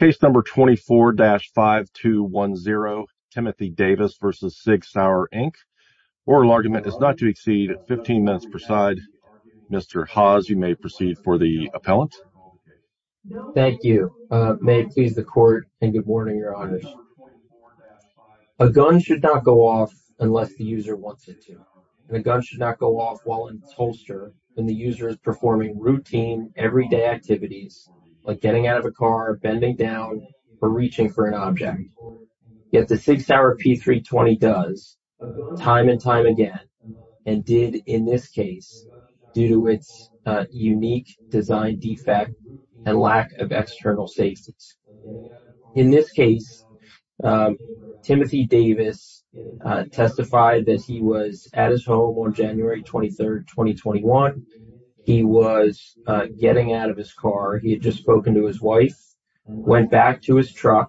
Case number 24-5210 Timothy Davis v. Sig Sauer Inc. Oral argument is not to exceed 15 minutes per side. Mr. Haas, you may proceed for the appellant. Thank you. May it please the court and good morning, Your Honors. A gun should not go off unless the user wants it to. And a gun should not go off while in its holster when the user is performing routine, everyday activities like getting out of a car, bending down, or reaching for an object. Yet the Sig Sauer P320 does, time and time again, and did in this case due to its unique design defect and lack of external safety. In this case, Timothy Davis testified that he was at his home on January 23rd, 2021. He was getting out of his car. He had just spoken to his wife, went back to his truck,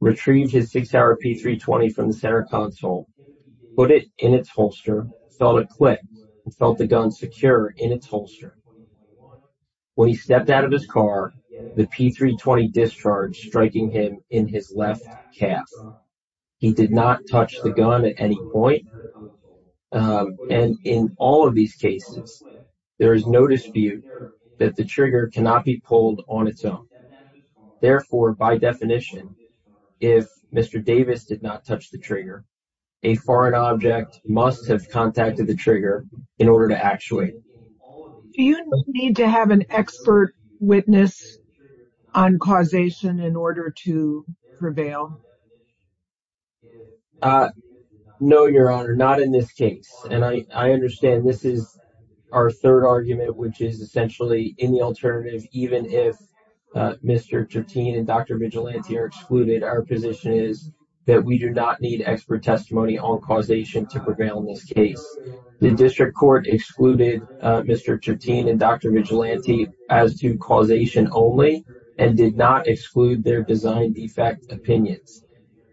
retrieved his Sig Sauer P320 from the center console, put it in its holster, felt it click, and felt the gun secure in its holster. When he stepped out of his car, the P320 discharged, striking him in his left calf. He did not touch the gun at any point. And in all of these cases, there is no dispute that the trigger cannot be pulled on its own. Therefore, by definition, if Mr. Davis did not touch the trigger, a foreign object must have contacted the trigger in order to actuate. Do you need to have an expert witness on causation in order to prevail? No, Your Honor, not in this case. And I understand this is our third argument, which is essentially in the alternative, even if Mr. Tertin and Dr. Vigilante are excluded, our position is that we do not need expert testimony on causation to prevail in this case. The district court excluded Mr. Tertin and Dr. Vigilante as to causation only and did not exclude their design defect opinions.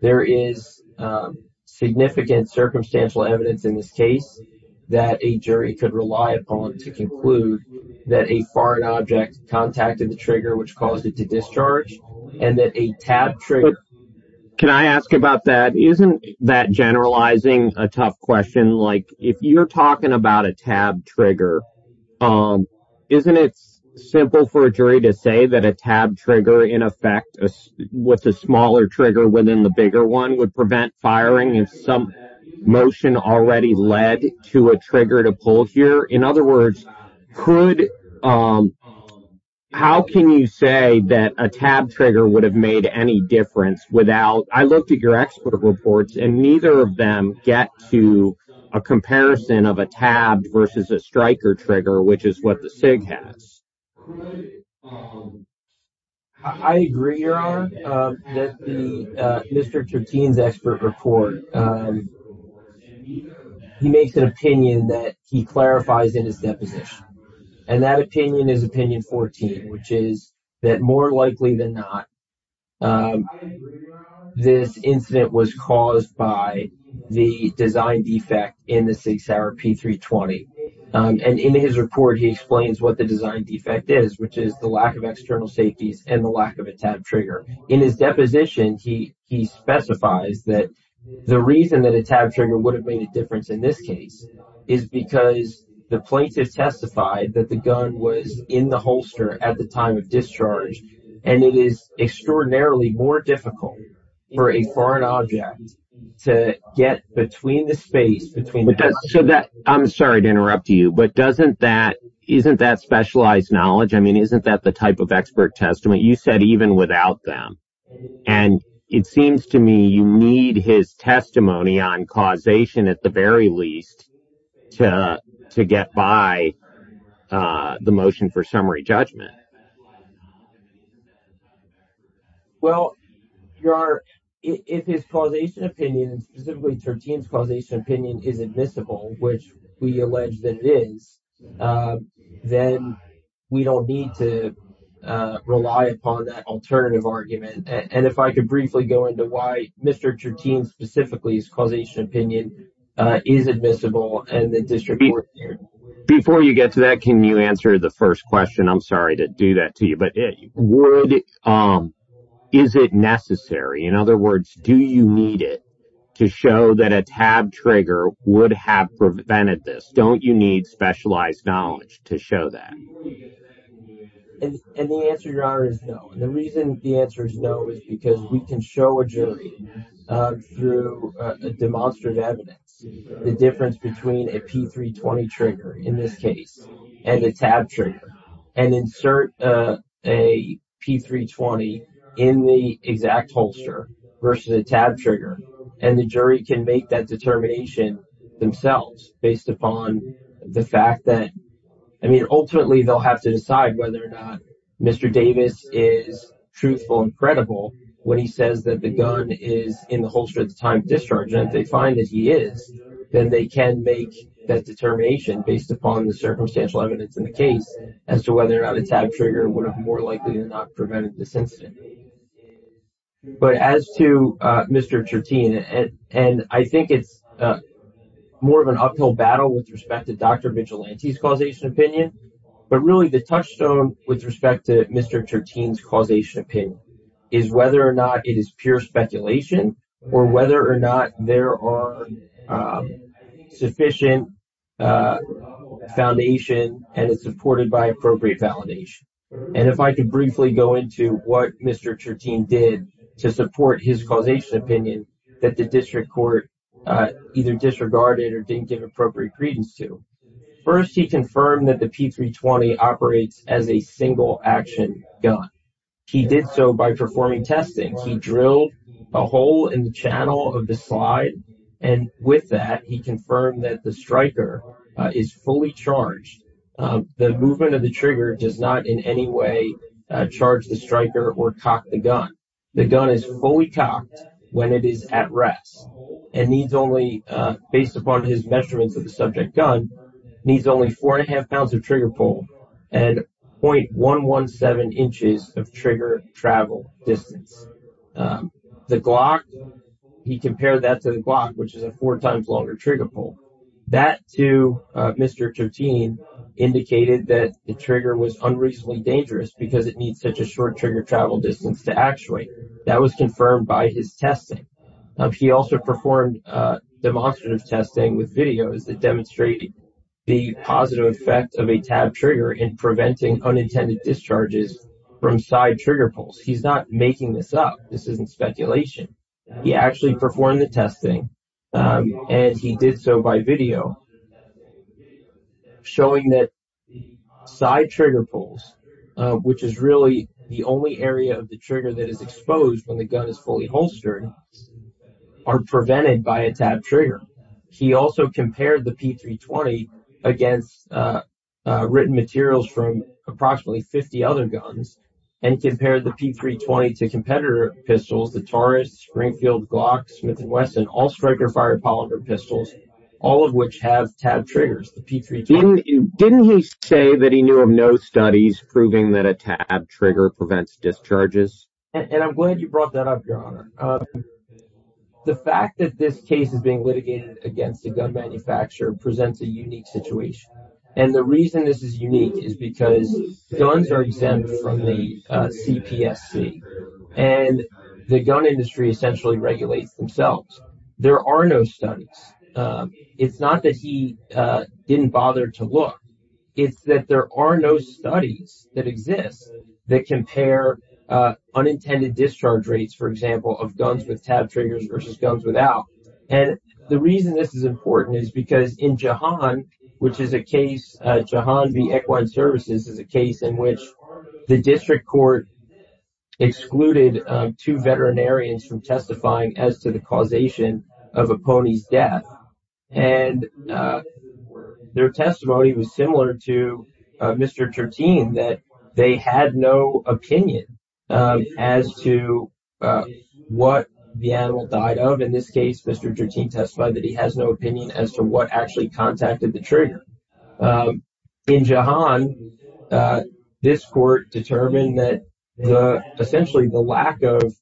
There is significant circumstantial evidence in this case that a jury could rely upon to conclude that a foreign object contacted the trigger, which caused it to discharge and that a tab trigger... Can I ask about that? Isn't that generalizing a tough question? If you're talking about a tab trigger, isn't it simple for a jury to say that a tab trigger in effect with a smaller trigger within the bigger one would prevent firing if some motion already led to a trigger to pull here? In other words, how can you say that a tab trigger would have made any difference without... I looked at your expert reports and neither of them get to a comparison of a tab versus a striker trigger, which is what the SIG has. I agree, Your Honor, that Mr. Tertin's expert report, he makes an opinion that he clarifies in his deposition. And that opinion is opinion 14, which is that more likely than not, this incident was caused by the design defect in the SIG Sauer P320. And in his report, he explains what the design defect is, which is the lack of external safeties and the lack of a tab trigger. In his deposition, he specifies that the reason that a by the gun. And he also makes a testify that the gun was in the holster at the time of discharge. And it is extraordinarily more difficult for a foreign object to get between the space, between the... I'm sorry to interrupt you, but doesn't that, doesn't that require testimony on causation at the very least to get by the motion for summary judgment? Well, Your Honor, if his causation opinion, specifically Tertin's causation opinion is admissible, which we allege that it is, then we don't need to rely upon that alternative argument. And if I could briefly go into why Mr. Tertin's causation opinion is admissible. Before you get to that, can you answer the first question? I'm sorry to do that to you, but is it necessary? In other words, do you need it to show that a tab trigger would have prevented this? Don't you need specialized knowledge to show that? And the answer, Your Honor, is no. And the reason the answer is no is because we can show a jury through demonstrative evidence the difference between a P320 trigger in this case and a tab trigger and insert a P320 in the exact holster versus a tab trigger. And the jury can make that determination themselves based upon the fact that ultimately they'll have to decide whether or not Mr. Davis is truthful and credible when he says that the gun is in the holster at the time of discharge. And if they find that he is, then they can make that determination based upon the circumstantial evidence in the case as to whether or not a tab trigger would have more likely than not prevented this incident. But as to Mr. Chertien, and I think it's more of an uphill battle with respect to Dr. Vigilante's causation opinion, but really the touchstone with respect to Mr. Chertien's causation opinion is whether or not it is pure speculation or whether or not there are sufficient foundations and it's supported by appropriate validation. And if I could briefly go into what Mr. Chertien did to support his causation opinion that the district court either disregarded or didn't give appropriate credence to. First, he confirmed that the P320 operates as a single action gun. He did so by performing testing. He drilled a hole in the channel of the slide. And with that, he confirmed that the striker is fully charged. The movement of the trigger does not in any way charge the striker or cock the gun. The gun is fully cocked when it is at rest and needs only, based upon his measurements of the subject gun, needs only four and a half pounds of trigger pull and 0.117 inches of trigger travel distance. The Glock, he compared that to the Glock, which is a four times longer trigger pull. That to Mr. Chertien indicated that the trigger was unreasonably dangerous because it needs such a short trigger travel distance to actuate. That was confirmed by his testing. He also performed demonstrative testing with videos that demonstrated the positive effect of a tab trigger in preventing unintended discharges from side trigger pulls. He's not making this up. This isn't speculation. He actually performed the testing and he did so by video showing that side trigger pulls, which is really the only area of the trigger that is exposed when the gun is fully holstered, are prevented by a tab trigger. He also compared the P320 against written materials from approximately 50 other guns and compared the P320 to competitor pistols, the Taurus, Springfield, Glock, Smith & Wesson, all striker fired polymer pistols, all of which have tab triggers. Didn't he say that he knew of no studies proving that a tab trigger prevents discharges? And I'm glad you brought that up, Your Honor. The fact that this case is being litigated against a gun manufacturer presents a unique situation. And the reason this is unique is because guns are exempt from the CPSC and the gun industry essentially regulates themselves. There are no studies. It's not that he didn't bother to look. It's that there are no studies that exist that compare unintended discharge rates, for example, of guns with tab triggers versus guns without. And the reason this is important is because in Jehan, which is a case, Jehan v. Equine Services, is a case in which the district court excluded two veterinarians from testifying as to the causation of a pony's death. And their testimony was similar to Mr. Chertien, that they had no opinion as to what the animal died of. In this case, Mr. Chertien testified that he has no opinion as to what actually contacted the trigger. In Jehan, this court determined that essentially the lack of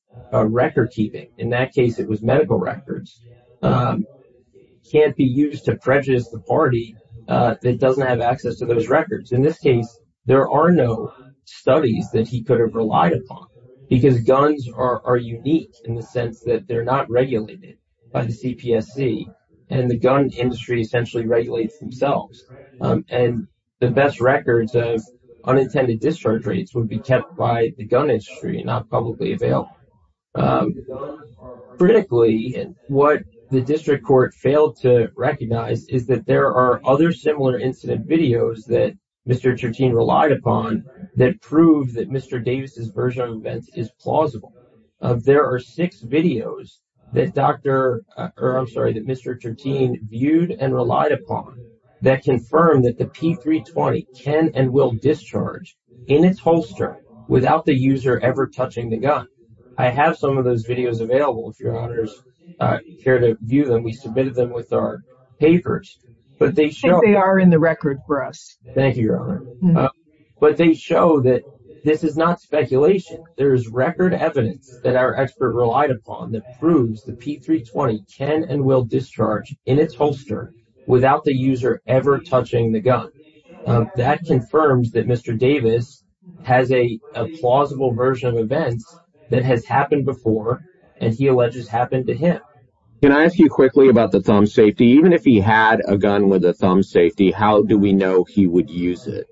record keeping, in that case it was medical records, can't be used to prejudice the party that doesn't have access to those records. In this case, there are no studies that he could have relied upon because guns are unique in the sense that they're not regulated by the CPSC and the gun industry essentially regulates themselves. And the best records of unintended discharge rates would be kept by the gun industry and not publicly available. Critically, what the district court failed to recognize is that there are other similar incident videos that Mr. Chertien relied upon that proved that Mr. Davis' version of events is plausible. There are six videos that Mr. Chertien viewed and relied upon that confirmed that the P320 can and will discharge in its holster without the user ever touching the gun. I have some of those videos available, if your honors care to view them. We submitted them with our papers. They are in the record for us. Thank you, Your Honor. But they show that this is not speculation. There is record evidence that our expert relied upon that proves the P320 can and will discharge in its holster without the user ever touching the gun. That confirms that Mr. Davis has a plausible version of events that has happened before and he alleges happened to him. Can I ask you quickly about the thumb safety? Even if he had a gun with a thumb safety, how do we know he would use it?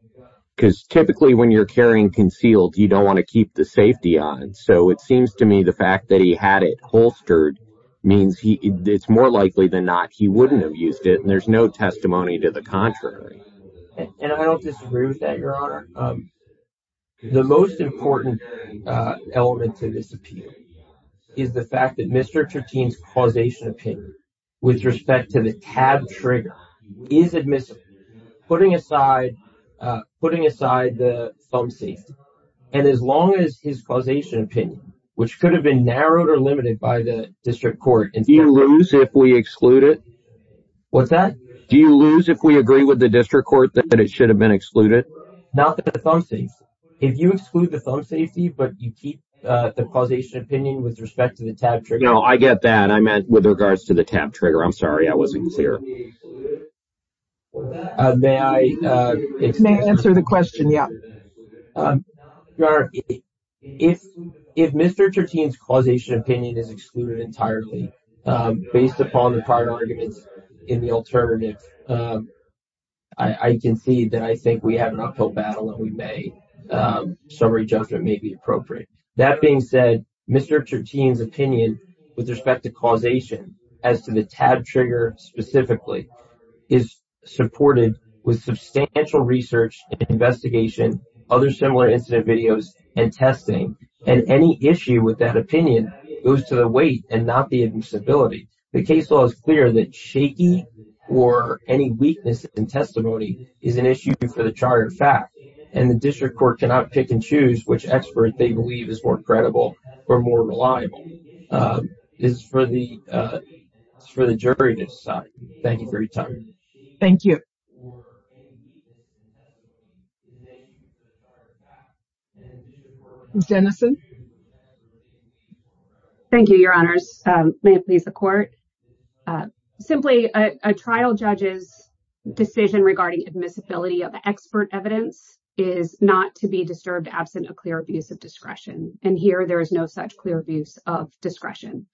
Because typically when you're carrying concealed, you don't want to keep the safety on. So it seems to me the fact that he had it holstered means it's more likely than not he wouldn't have used it. And there's no testimony to the contrary. And I don't disagree with that, Your Honor. The most important element to this appeal is the fact that Mr. Troutine's causation opinion with respect to the tab trigger is admissible. Putting aside the thumb safety and as long as his causation opinion, which could have been narrowed or limited by the district court. Do you lose if we exclude it? What's that? Do you lose if we agree with the district court that it should have been excluded? Not the thumb safety. If you get that, I meant with regards to the tab trigger. I'm sorry I wasn't clear. May I answer the question? Yeah. Your Honor, if Mr. Troutine's causation opinion is excluded entirely based upon the prior arguments in the alternative, I concede that I think we have an uphill battle and we may, summary judgment may be appropriate. That being said, Mr. Troutine's opinion with respect to causation as to the tab trigger specifically is supported with substantial research and investigation, other similar incident videos and testing. And any issue with that opinion goes to the weight and not the admissibility. The case law is clear that shaky or any weakness in testimony is an issue for the chartered fact and the district court cannot pick and choose which expert they believe is more credible or more reliable. It's for the jury to decide. Thank you for your time. Thank you. Jenison. Thank you, Your Honors. May it please the court. Simply, a trial judge's decision regarding admissibility of expert evidence is not to be disturbed absent a clear abuse of discretion. And here there is no such clear abuse of discretion.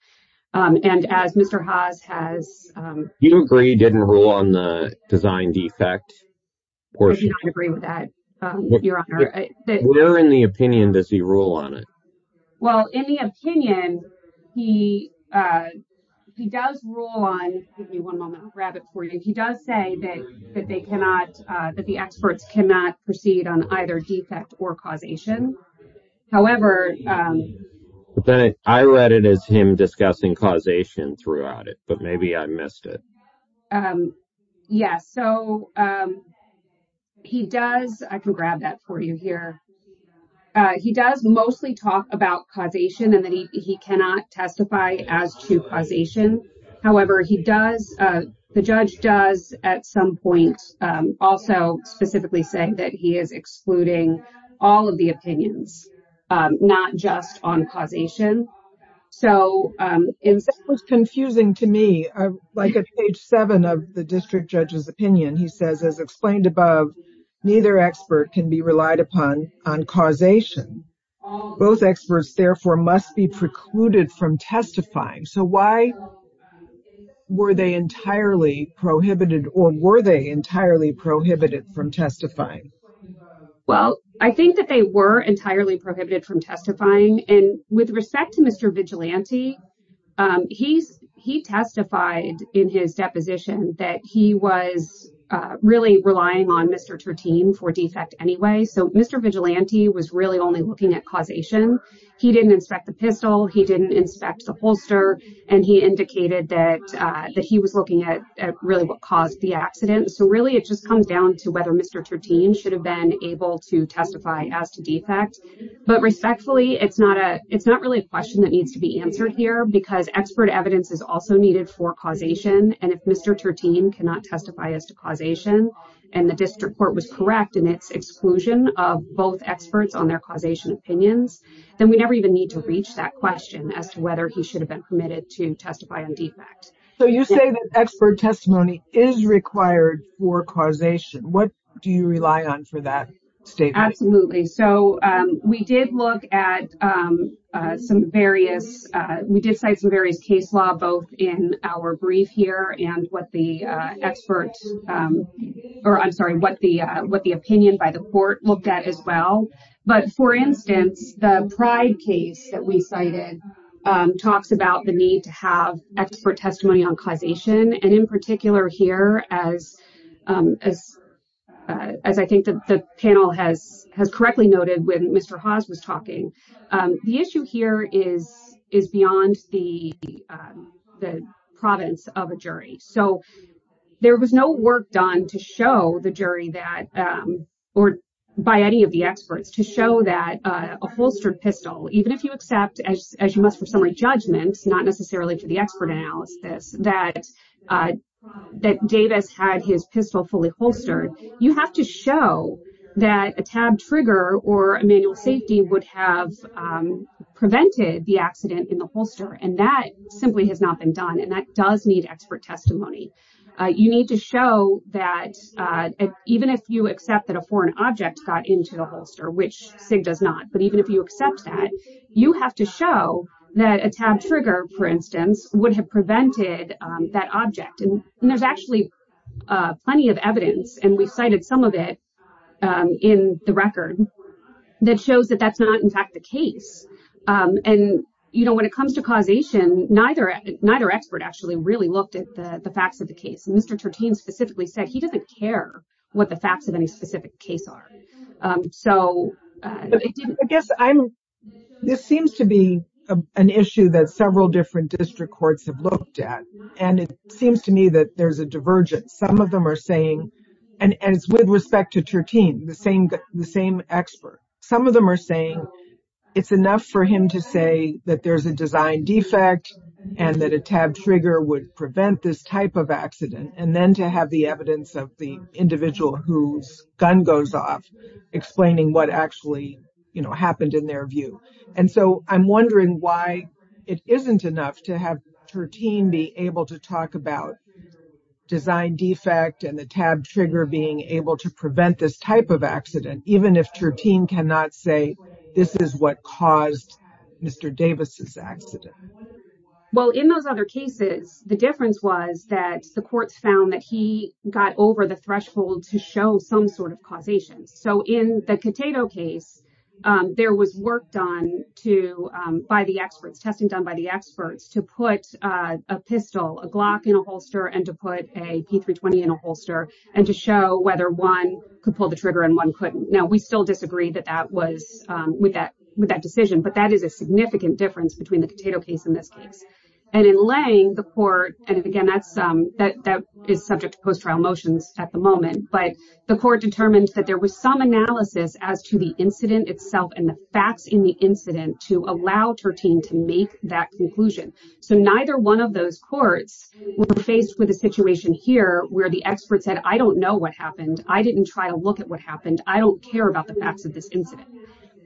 And as Mr. Haas has... You agree he didn't rule on the design defect portion? I agree with that, Your Honor. Where in the opinion does he rule on it? Well, in the opinion, he does rule on... Give me one moment. I'll grab it for you. He does say that the experts cannot proceed on either defect or causation. However... I read it as him discussing causation throughout it, but maybe I missed it. Yes, so he does... I can grab that for you here. He does mostly talk about causation and that he cannot testify as to causation. However, he does... The judge does at some point also specifically say that he is excluding all of the opinions, not just on causation. That was confusing to me. Like at page 7 of the district judge's opinion, he says, as explained above, neither expert can be relied upon on causation. Both experts, therefore, must be precluded from testifying. So why were they entirely prohibited or were they entirely prohibited from testifying? Well, I think that they were entirely prohibited from testifying. And with respect to Mr. Vigilante, he testified in his deposition that he was really relying on Mr. Turteen for defect anyway. So Mr. Vigilante was really only looking at causation. He didn't inspect the pistol. He didn't inspect the holster. And he indicated that he was looking at really what caused the accident. So really it just comes down to whether Mr. Turteen should have been able to testify as to defect. But respectfully, it's not really a question that needs to be answered here because expert evidence is also needed for causation. And if Mr. Turteen cannot testify as to causation and the district court was correct in its exclusion of both experts on their causation opinions, then we never even need to reach that question as to whether he should have been permitted to testify on defect. So you say that expert testimony is required for causation. What do you rely on for that statement? Absolutely. So we did look at some various we did cite some various case law both in our brief here and what the expert or I'm sorry what the what the opinion by the court looked at as well. But for instance, the pride case that we cited talks about the need to have expert testimony on causation and in particular here as as I think that the panel has has correctly noted when Mr. Haas was talking. The issue here is is beyond the the province of a jury. So there was no work done to show the jury that or by any of the experts to show that a holstered pistol, even if you accept as you must for summary judgments, not necessarily to the expert analysis that that Davis had his pistol fully holstered. You have to show that a tab trigger or a manual safety would have prevented the accident in the holster and that simply has not been done. And that does need expert testimony. You need to show that even if you accept that a foreign object got into the holster, which does not. But even if you accept that, you have to show that a tab trigger, for instance, would have prevented that object. And there's actually plenty of evidence and we've cited some of it in the record that shows that that's not in fact the case. And, you know, when it comes to causation, neither expert actually really looked at the facts of the case. Mr. Tertain specifically said he doesn't care what the facts of any specific case are. So I guess I'm this seems to be an issue that several different district courts have looked at. And it seems to me that there's a divergence. Some of them are saying and it's with respect to Tertain, the same the same expert. Some of them are saying it's enough for him to say that there's a design defect and that a tab trigger would prevent this type of accident. And then to have the evidence of the individual whose gun goes off, explaining what actually happened in their view. And so I'm wondering why it isn't enough to have Tertain be able to talk about design defect and the tab trigger being able to prevent this type of accident, even if Tertain cannot say this is what caused Mr. Davis's accident. Well, in those other cases, the difference was that the courts found that he got over the threshold to show some sort of causation. So in the potato case, there was work done to by the experts testing done by the experts to put a pistol, a Glock in a holster and to put a P320 in a holster and to show whether one could pull the trigger and one couldn't. Now, we still disagree that that was with that with that decision. But that is a significant difference between the potato case in this case and in laying the court. And again, that's that that is subject to post-trial motions at the moment. But the court determined that there was some analysis as to the incident itself and the facts in the incident to allow Tertain to make that conclusion. So neither one of those courts were faced with a situation here where the experts said, I don't know what happened. I didn't try to look at what happened. I don't care about the facts of this incident.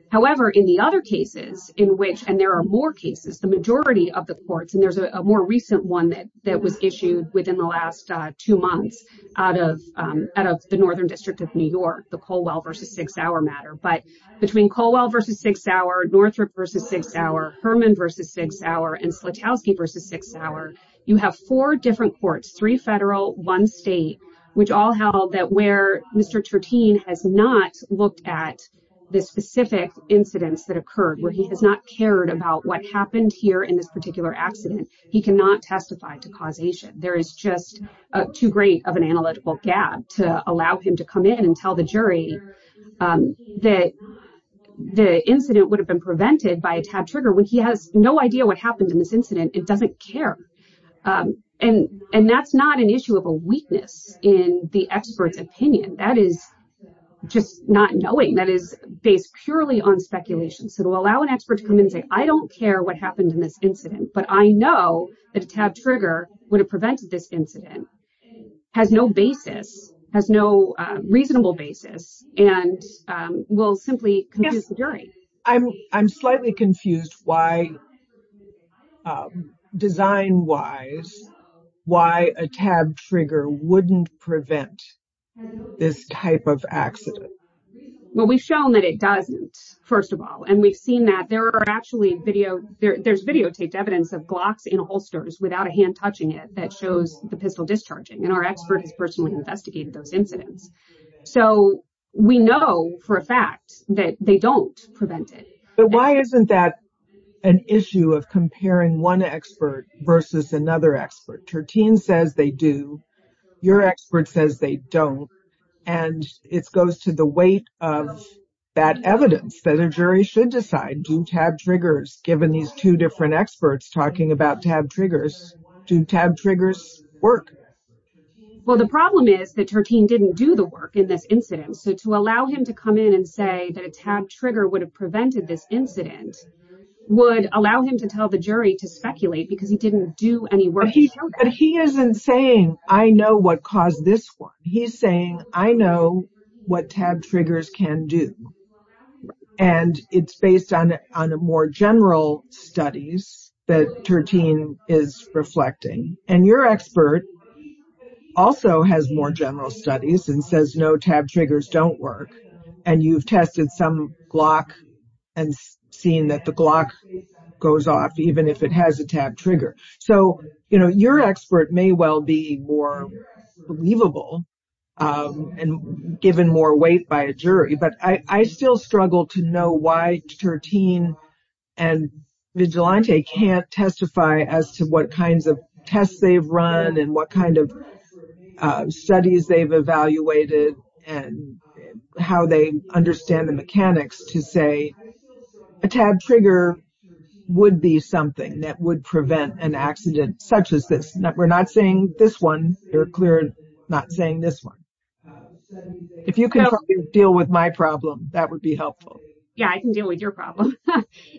However, in the other cases in which and there are more cases, the majority of the courts and there's a more recent one that that was issued within the last two months out of out of the Northern District of New York, the Colwell versus six hour matter. But between Colwell versus six hour, Northrop versus six hour, Herman versus six hour and Slutowski versus six hour, you have four different courts, three federal, one state, which all held that where Mr. Tertain has not looked at the specific incidents that occurred where he has not cared about what happened here in this particular accident. He cannot testify to causation. There is just too great of an analytical gap to allow him to come in and tell the jury that the incident would have been prevented by a tab trigger when he has no idea what happened in this incident. It doesn't care. And and that's not an issue of a weakness in the expert's opinion. That is just not knowing that is based purely on speculation. So to allow an expert to come in and say, I don't care what happened in this incident, but I know that a tab trigger would have prevented this incident has no basis, has no reasonable basis and will simply confuse the jury. I'm I'm slightly confused why design wise, why a tab trigger wouldn't prevent this type of accident. Well, we've shown that it doesn't, first of all. And we've seen that there are actually video. There's videotaped evidence of glocks in holsters without a hand touching it that shows the pistol discharging. And our experts know that this person would investigate those incidents. So we know for a fact that they don't prevent it. But why isn't that an issue of comparing one expert versus another expert? Tertine says they do. Your expert says they don't. And it goes to the weight of that evidence that a jury should decide. Do tab triggers, given these two different experts talking about tab triggers, do tab triggers work? Well, the problem is that Tertine didn't do the work in this incident. So to allow him to come in and say that a tab trigger would have prevented this incident would allow him to tell the jury to speculate because he didn't do any work. But he isn't saying I know what caused this one. He's saying I know what tab triggers can do. And it's based on a more general studies that Tertine is reflecting. And your expert also has more general studies and says no tab triggers don't work. And you've tested some glock and seen that the glock goes off even if it has a tab trigger. So, you know, your expert may well be more believable and given more weight by a jury. But I still struggle to know why Tertine and Vigilante can't testify as to what kinds of tests they've run and what kind of studies they've evaluated and how they understand the mechanics to say a tab trigger would be something that would prevent an accident such as this. We're not saying this one. You're clearly not saying this one. If you can deal with my problem, that would be helpful. Yeah, I can deal with your problem,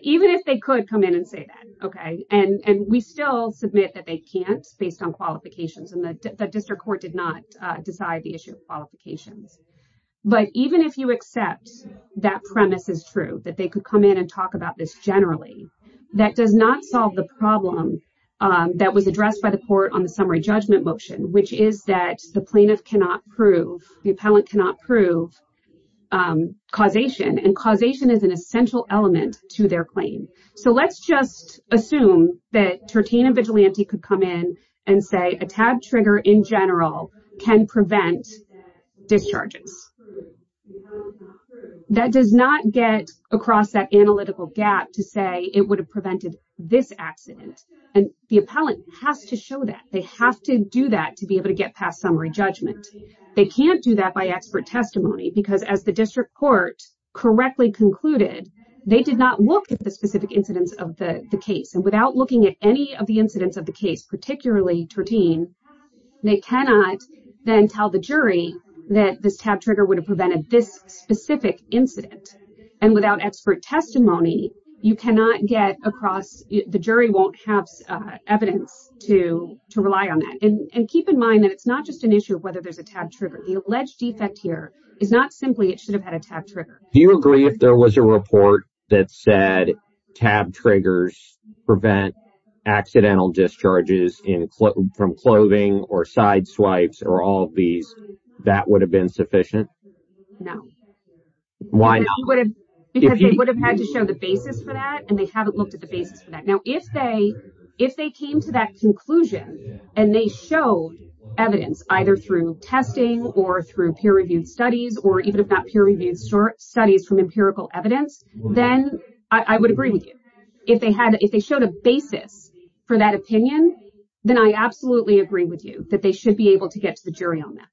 even if they could come in and say that. And we still submit that they can't based on qualifications. And the district court did not decide the issue of qualifications. But even if you accept that premise is true, that they could come in and talk about this generally, that does not solve the problem that was addressed by the court on the summary judgment motion, which is that the plaintiff cannot prove, the appellant cannot prove causation. And causation is an essential element to their claim. So let's just assume that Tertine and Vigilante could come in and say a tab trigger in general can prevent discharges. That does not get across that analytical gap to say it would have prevented this accident. And the appellant has to show that they have to do that to be able to get past summary judgment. They can't do that by expert testimony because as the district court correctly concluded, they did not look at the specific incidence of the case. And without looking at any of the incidents of the case, particularly Tertine, they cannot then tell the jury that this tab trigger would have prevented this specific incident. And without expert testimony, you cannot get across, the jury won't have evidence to rely on that. And keep in mind that it's not just an issue of whether there's a tab trigger. The alleged defect here is not simply it should have had a tab trigger. Do you agree if there was a report that said tab triggers prevent accidental discharges from clothing or side swipes or all of these, that would have been sufficient? No. Why not? Because they would have had to show the basis for that and they haven't looked at the basis for that. Now if they came to that conclusion and they showed evidence either through testing or through peer-reviewed studies or even if not peer-reviewed studies from empirical evidence, then I would agree with you. If they showed a basis for that opinion, then I absolutely agree with you that they should be able to get to the jury on that.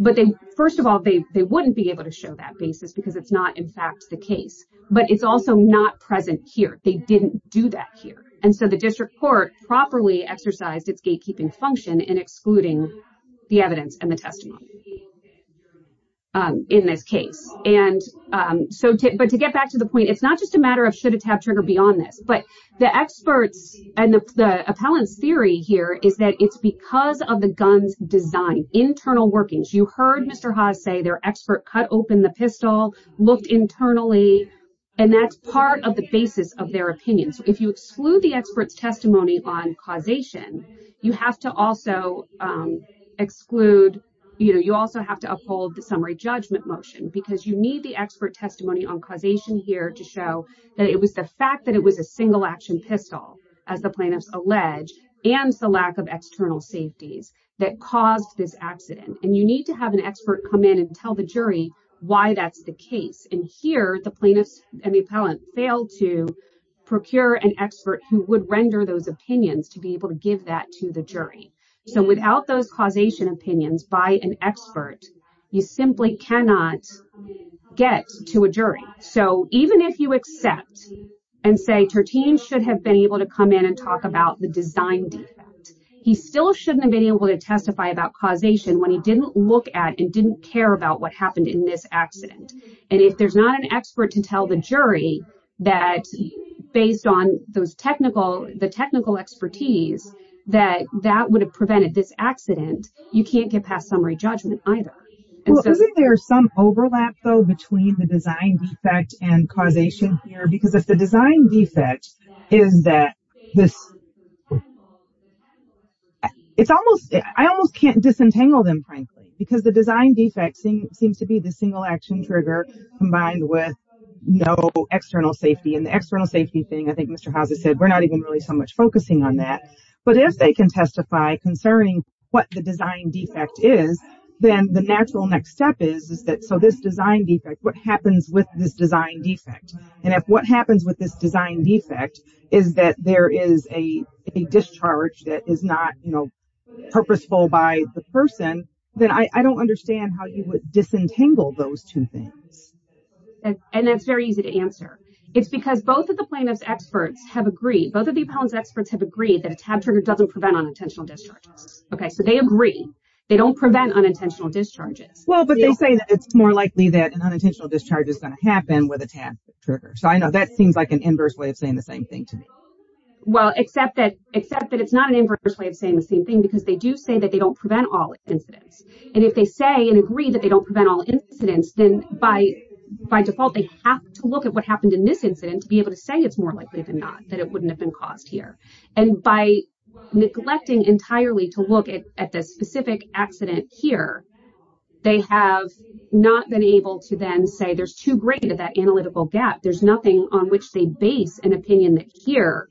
But first of all, they wouldn't be able to show that basis because it's not in fact the case. But it's also not present here. They didn't do that here. And so the district court properly exercised its gatekeeping function in excluding the evidence and the testimony in this case. But to get back to the point, it's not just a matter of should a tab trigger be on this, but the experts and the appellant's theory here is that it's because of the gun's design. Internal workings. You heard Mr. Haas say their expert cut open the pistol, looked internally, and that's part of the basis of their opinion. So if you exclude the expert's testimony on causation, you have to also exclude, you know, you also have to uphold the summary judgment motion because you need the expert testimony on causation here to show that it was the fact that it was a single-action pistol, as the plaintiffs allege, and the lack of external safeties that caused this accident. And you need to have an expert come in and tell the jury why that's the case. And here the plaintiffs and the appellant failed to procure an expert who would render those opinions to be able to give that to the jury. So without those causation opinions by an expert, you simply cannot get to a jury. So even if you accept and say Tartine should have been able to come in and talk about the design defect, he still shouldn't have been able to testify about causation when he didn't look at and didn't care about what happened in this accident. And if there's not an expert to tell the jury that, based on those technical, the technical expertise, that that would have prevented this accident, you can't get past summary judgment either. Isn't there some overlap, though, between the design defect and causation here? Because if the design defect is that this... I almost can't disentangle them, frankly, because the design defect seems to be the single-action trigger combined with no external safety. And the external safety thing, I think Mr. Hauser said, we're not even really so much focusing on that. But if they can testify concerning what the design defect is, then the natural next step is, so this design defect, what happens with this design defect? And if what happens with this design defect is that there is a discharge that is not purposeful by the person, then I don't understand how you would disentangle those two things. And that's very easy to answer. It's because both of the plaintiff's experts have agreed, both of the plaintiff's experts have agreed that it's more likely that an unintentional discharge is going to happen with a TAD trigger. So I know that seems like an inverse way of saying the same thing to me. Well, except that it's not an inverse way of saying the same thing, because they do say that they don't prevent all incidents. And if they say and agree that they don't prevent all incidents, then by default, they have to look at what happened in this incident to be able to say it's more likely than not that it wouldn't have been caused here. And by neglecting entirely to look at the specific accident here, they have not been able to then say there's too great of that analytical gap. There's nothing on which they base an opinion that here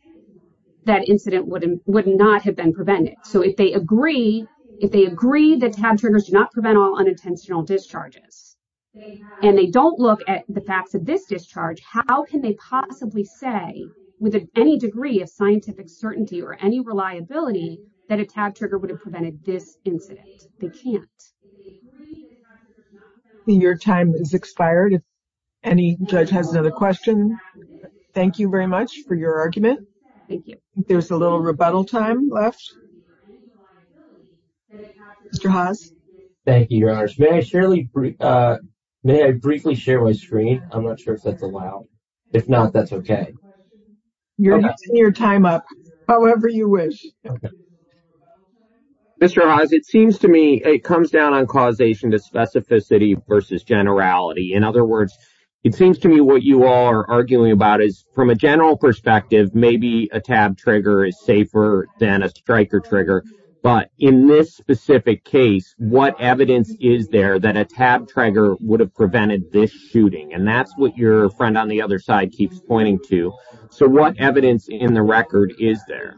that incident would not have been prevented. So if they agree, if they agree that TAD triggers do not prevent all unintentional discharges, and they don't look at the facts of this discharge, how can they possibly say with any degree of scientific certainty or any reliability that a TAD trigger would have prevented this incident? They can't. Your time has expired. Any judge has another question? Thank you very much for your argument. Thank you. There's a little rebuttal time left. Mr. Haas. Thank you, Your Honor. May I briefly share my screen? I'm not sure if that's allowed. If not, that's okay. You're taking your time up, however you wish. Mr. Haas, it seems to me it comes down on causation to specificity versus generality. In other words, it seems to me what you are arguing about is that from a general perspective, maybe a TAD trigger is safer than a striker trigger. But in this specific case, what evidence is there that a TAD trigger would have prevented this shooting? And that's what your friend on the other side keeps pointing to. So what evidence in the record is there?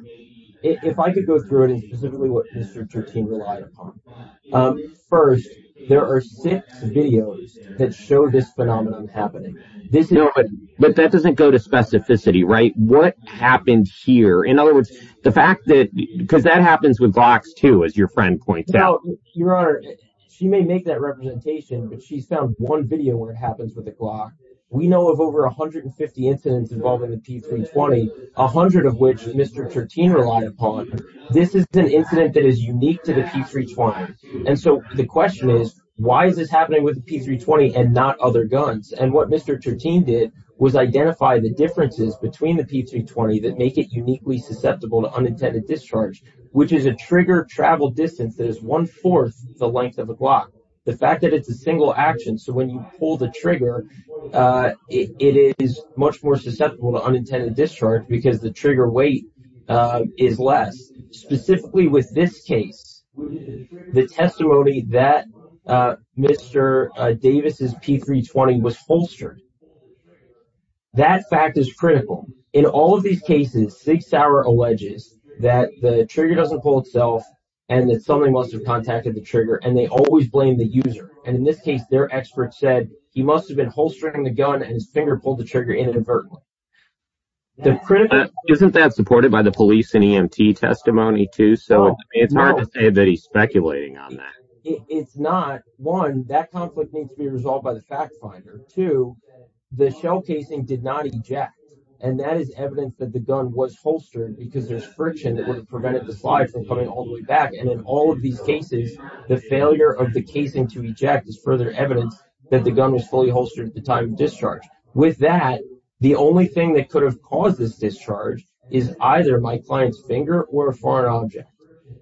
If I could go through it specifically what Mr. Tertine relied upon. First, there are six videos that show this phenomenon happening. But that doesn't go to specificity, right? What happened here? In other words, the fact that because that happens with Glocks, too, as your friend points out. Your Honor, she may make that representation, but she's found one video where it happens with a Glock. We know of over 150 incidents involving the P320, 100 of which Mr. Tertine relied upon. This is an incident that is unique to the P320. And so the question is, why is this happening with the P320 and not other guns? And what Mr. Tertine did was identify the differences between the P320 that make it uniquely susceptible to unintended discharge, which is a trigger travel distance that is one-fourth the length of a Glock. The fact that it's a single action, so when you pull the trigger, it is much more susceptible to unintended discharge because the trigger weight is less. Specifically with this case, the testimony that Mr. Davis' P320 was holstered, that fact is critical. In all of these cases, Sig Sauer alleges that the trigger doesn't pull itself and that somebody must have contacted the trigger, and they always blame the user. And in this case, their expert said he must have been holstering the gun and his finger pulled the trigger inadvertently. Isn't that supported by the police and EMT testimony too? So it's hard to say that he's speculating on that. It's not. One, that conflict needs to be resolved by the fact finder. Two, the shell casing did not eject. And that is evidence that the gun was holstered because there's friction that would have prevented the slide from coming all the way back. And in all of these cases, the failure of the casing to eject is further evidence that the gun was fully holstered at the time of discharge. With that, the only thing that could have caused this discharge is either my client's finger or a foreign object.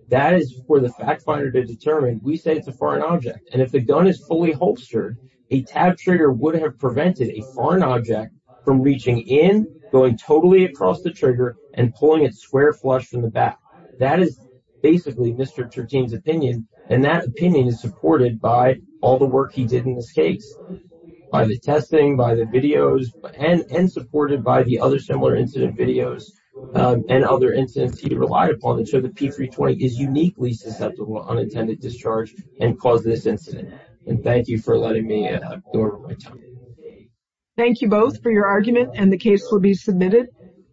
That is for the fact finder to determine. We say it's a foreign object. And if the gun is fully holstered, a tab trigger would have prevented a foreign object from reaching in, going totally across the trigger, and pulling it square flush from the back. That is basically Mr. Chertien's opinion. And that opinion is supported by all the work he did in this case, by the testing, by the videos, and supported by the other similar incident videos and other incidents he relied upon to show the P-320 is uniquely susceptible to unintended discharge and cause this incident. And thank you for letting me go over my time. Thank you both for your argument, and the case will be submitted.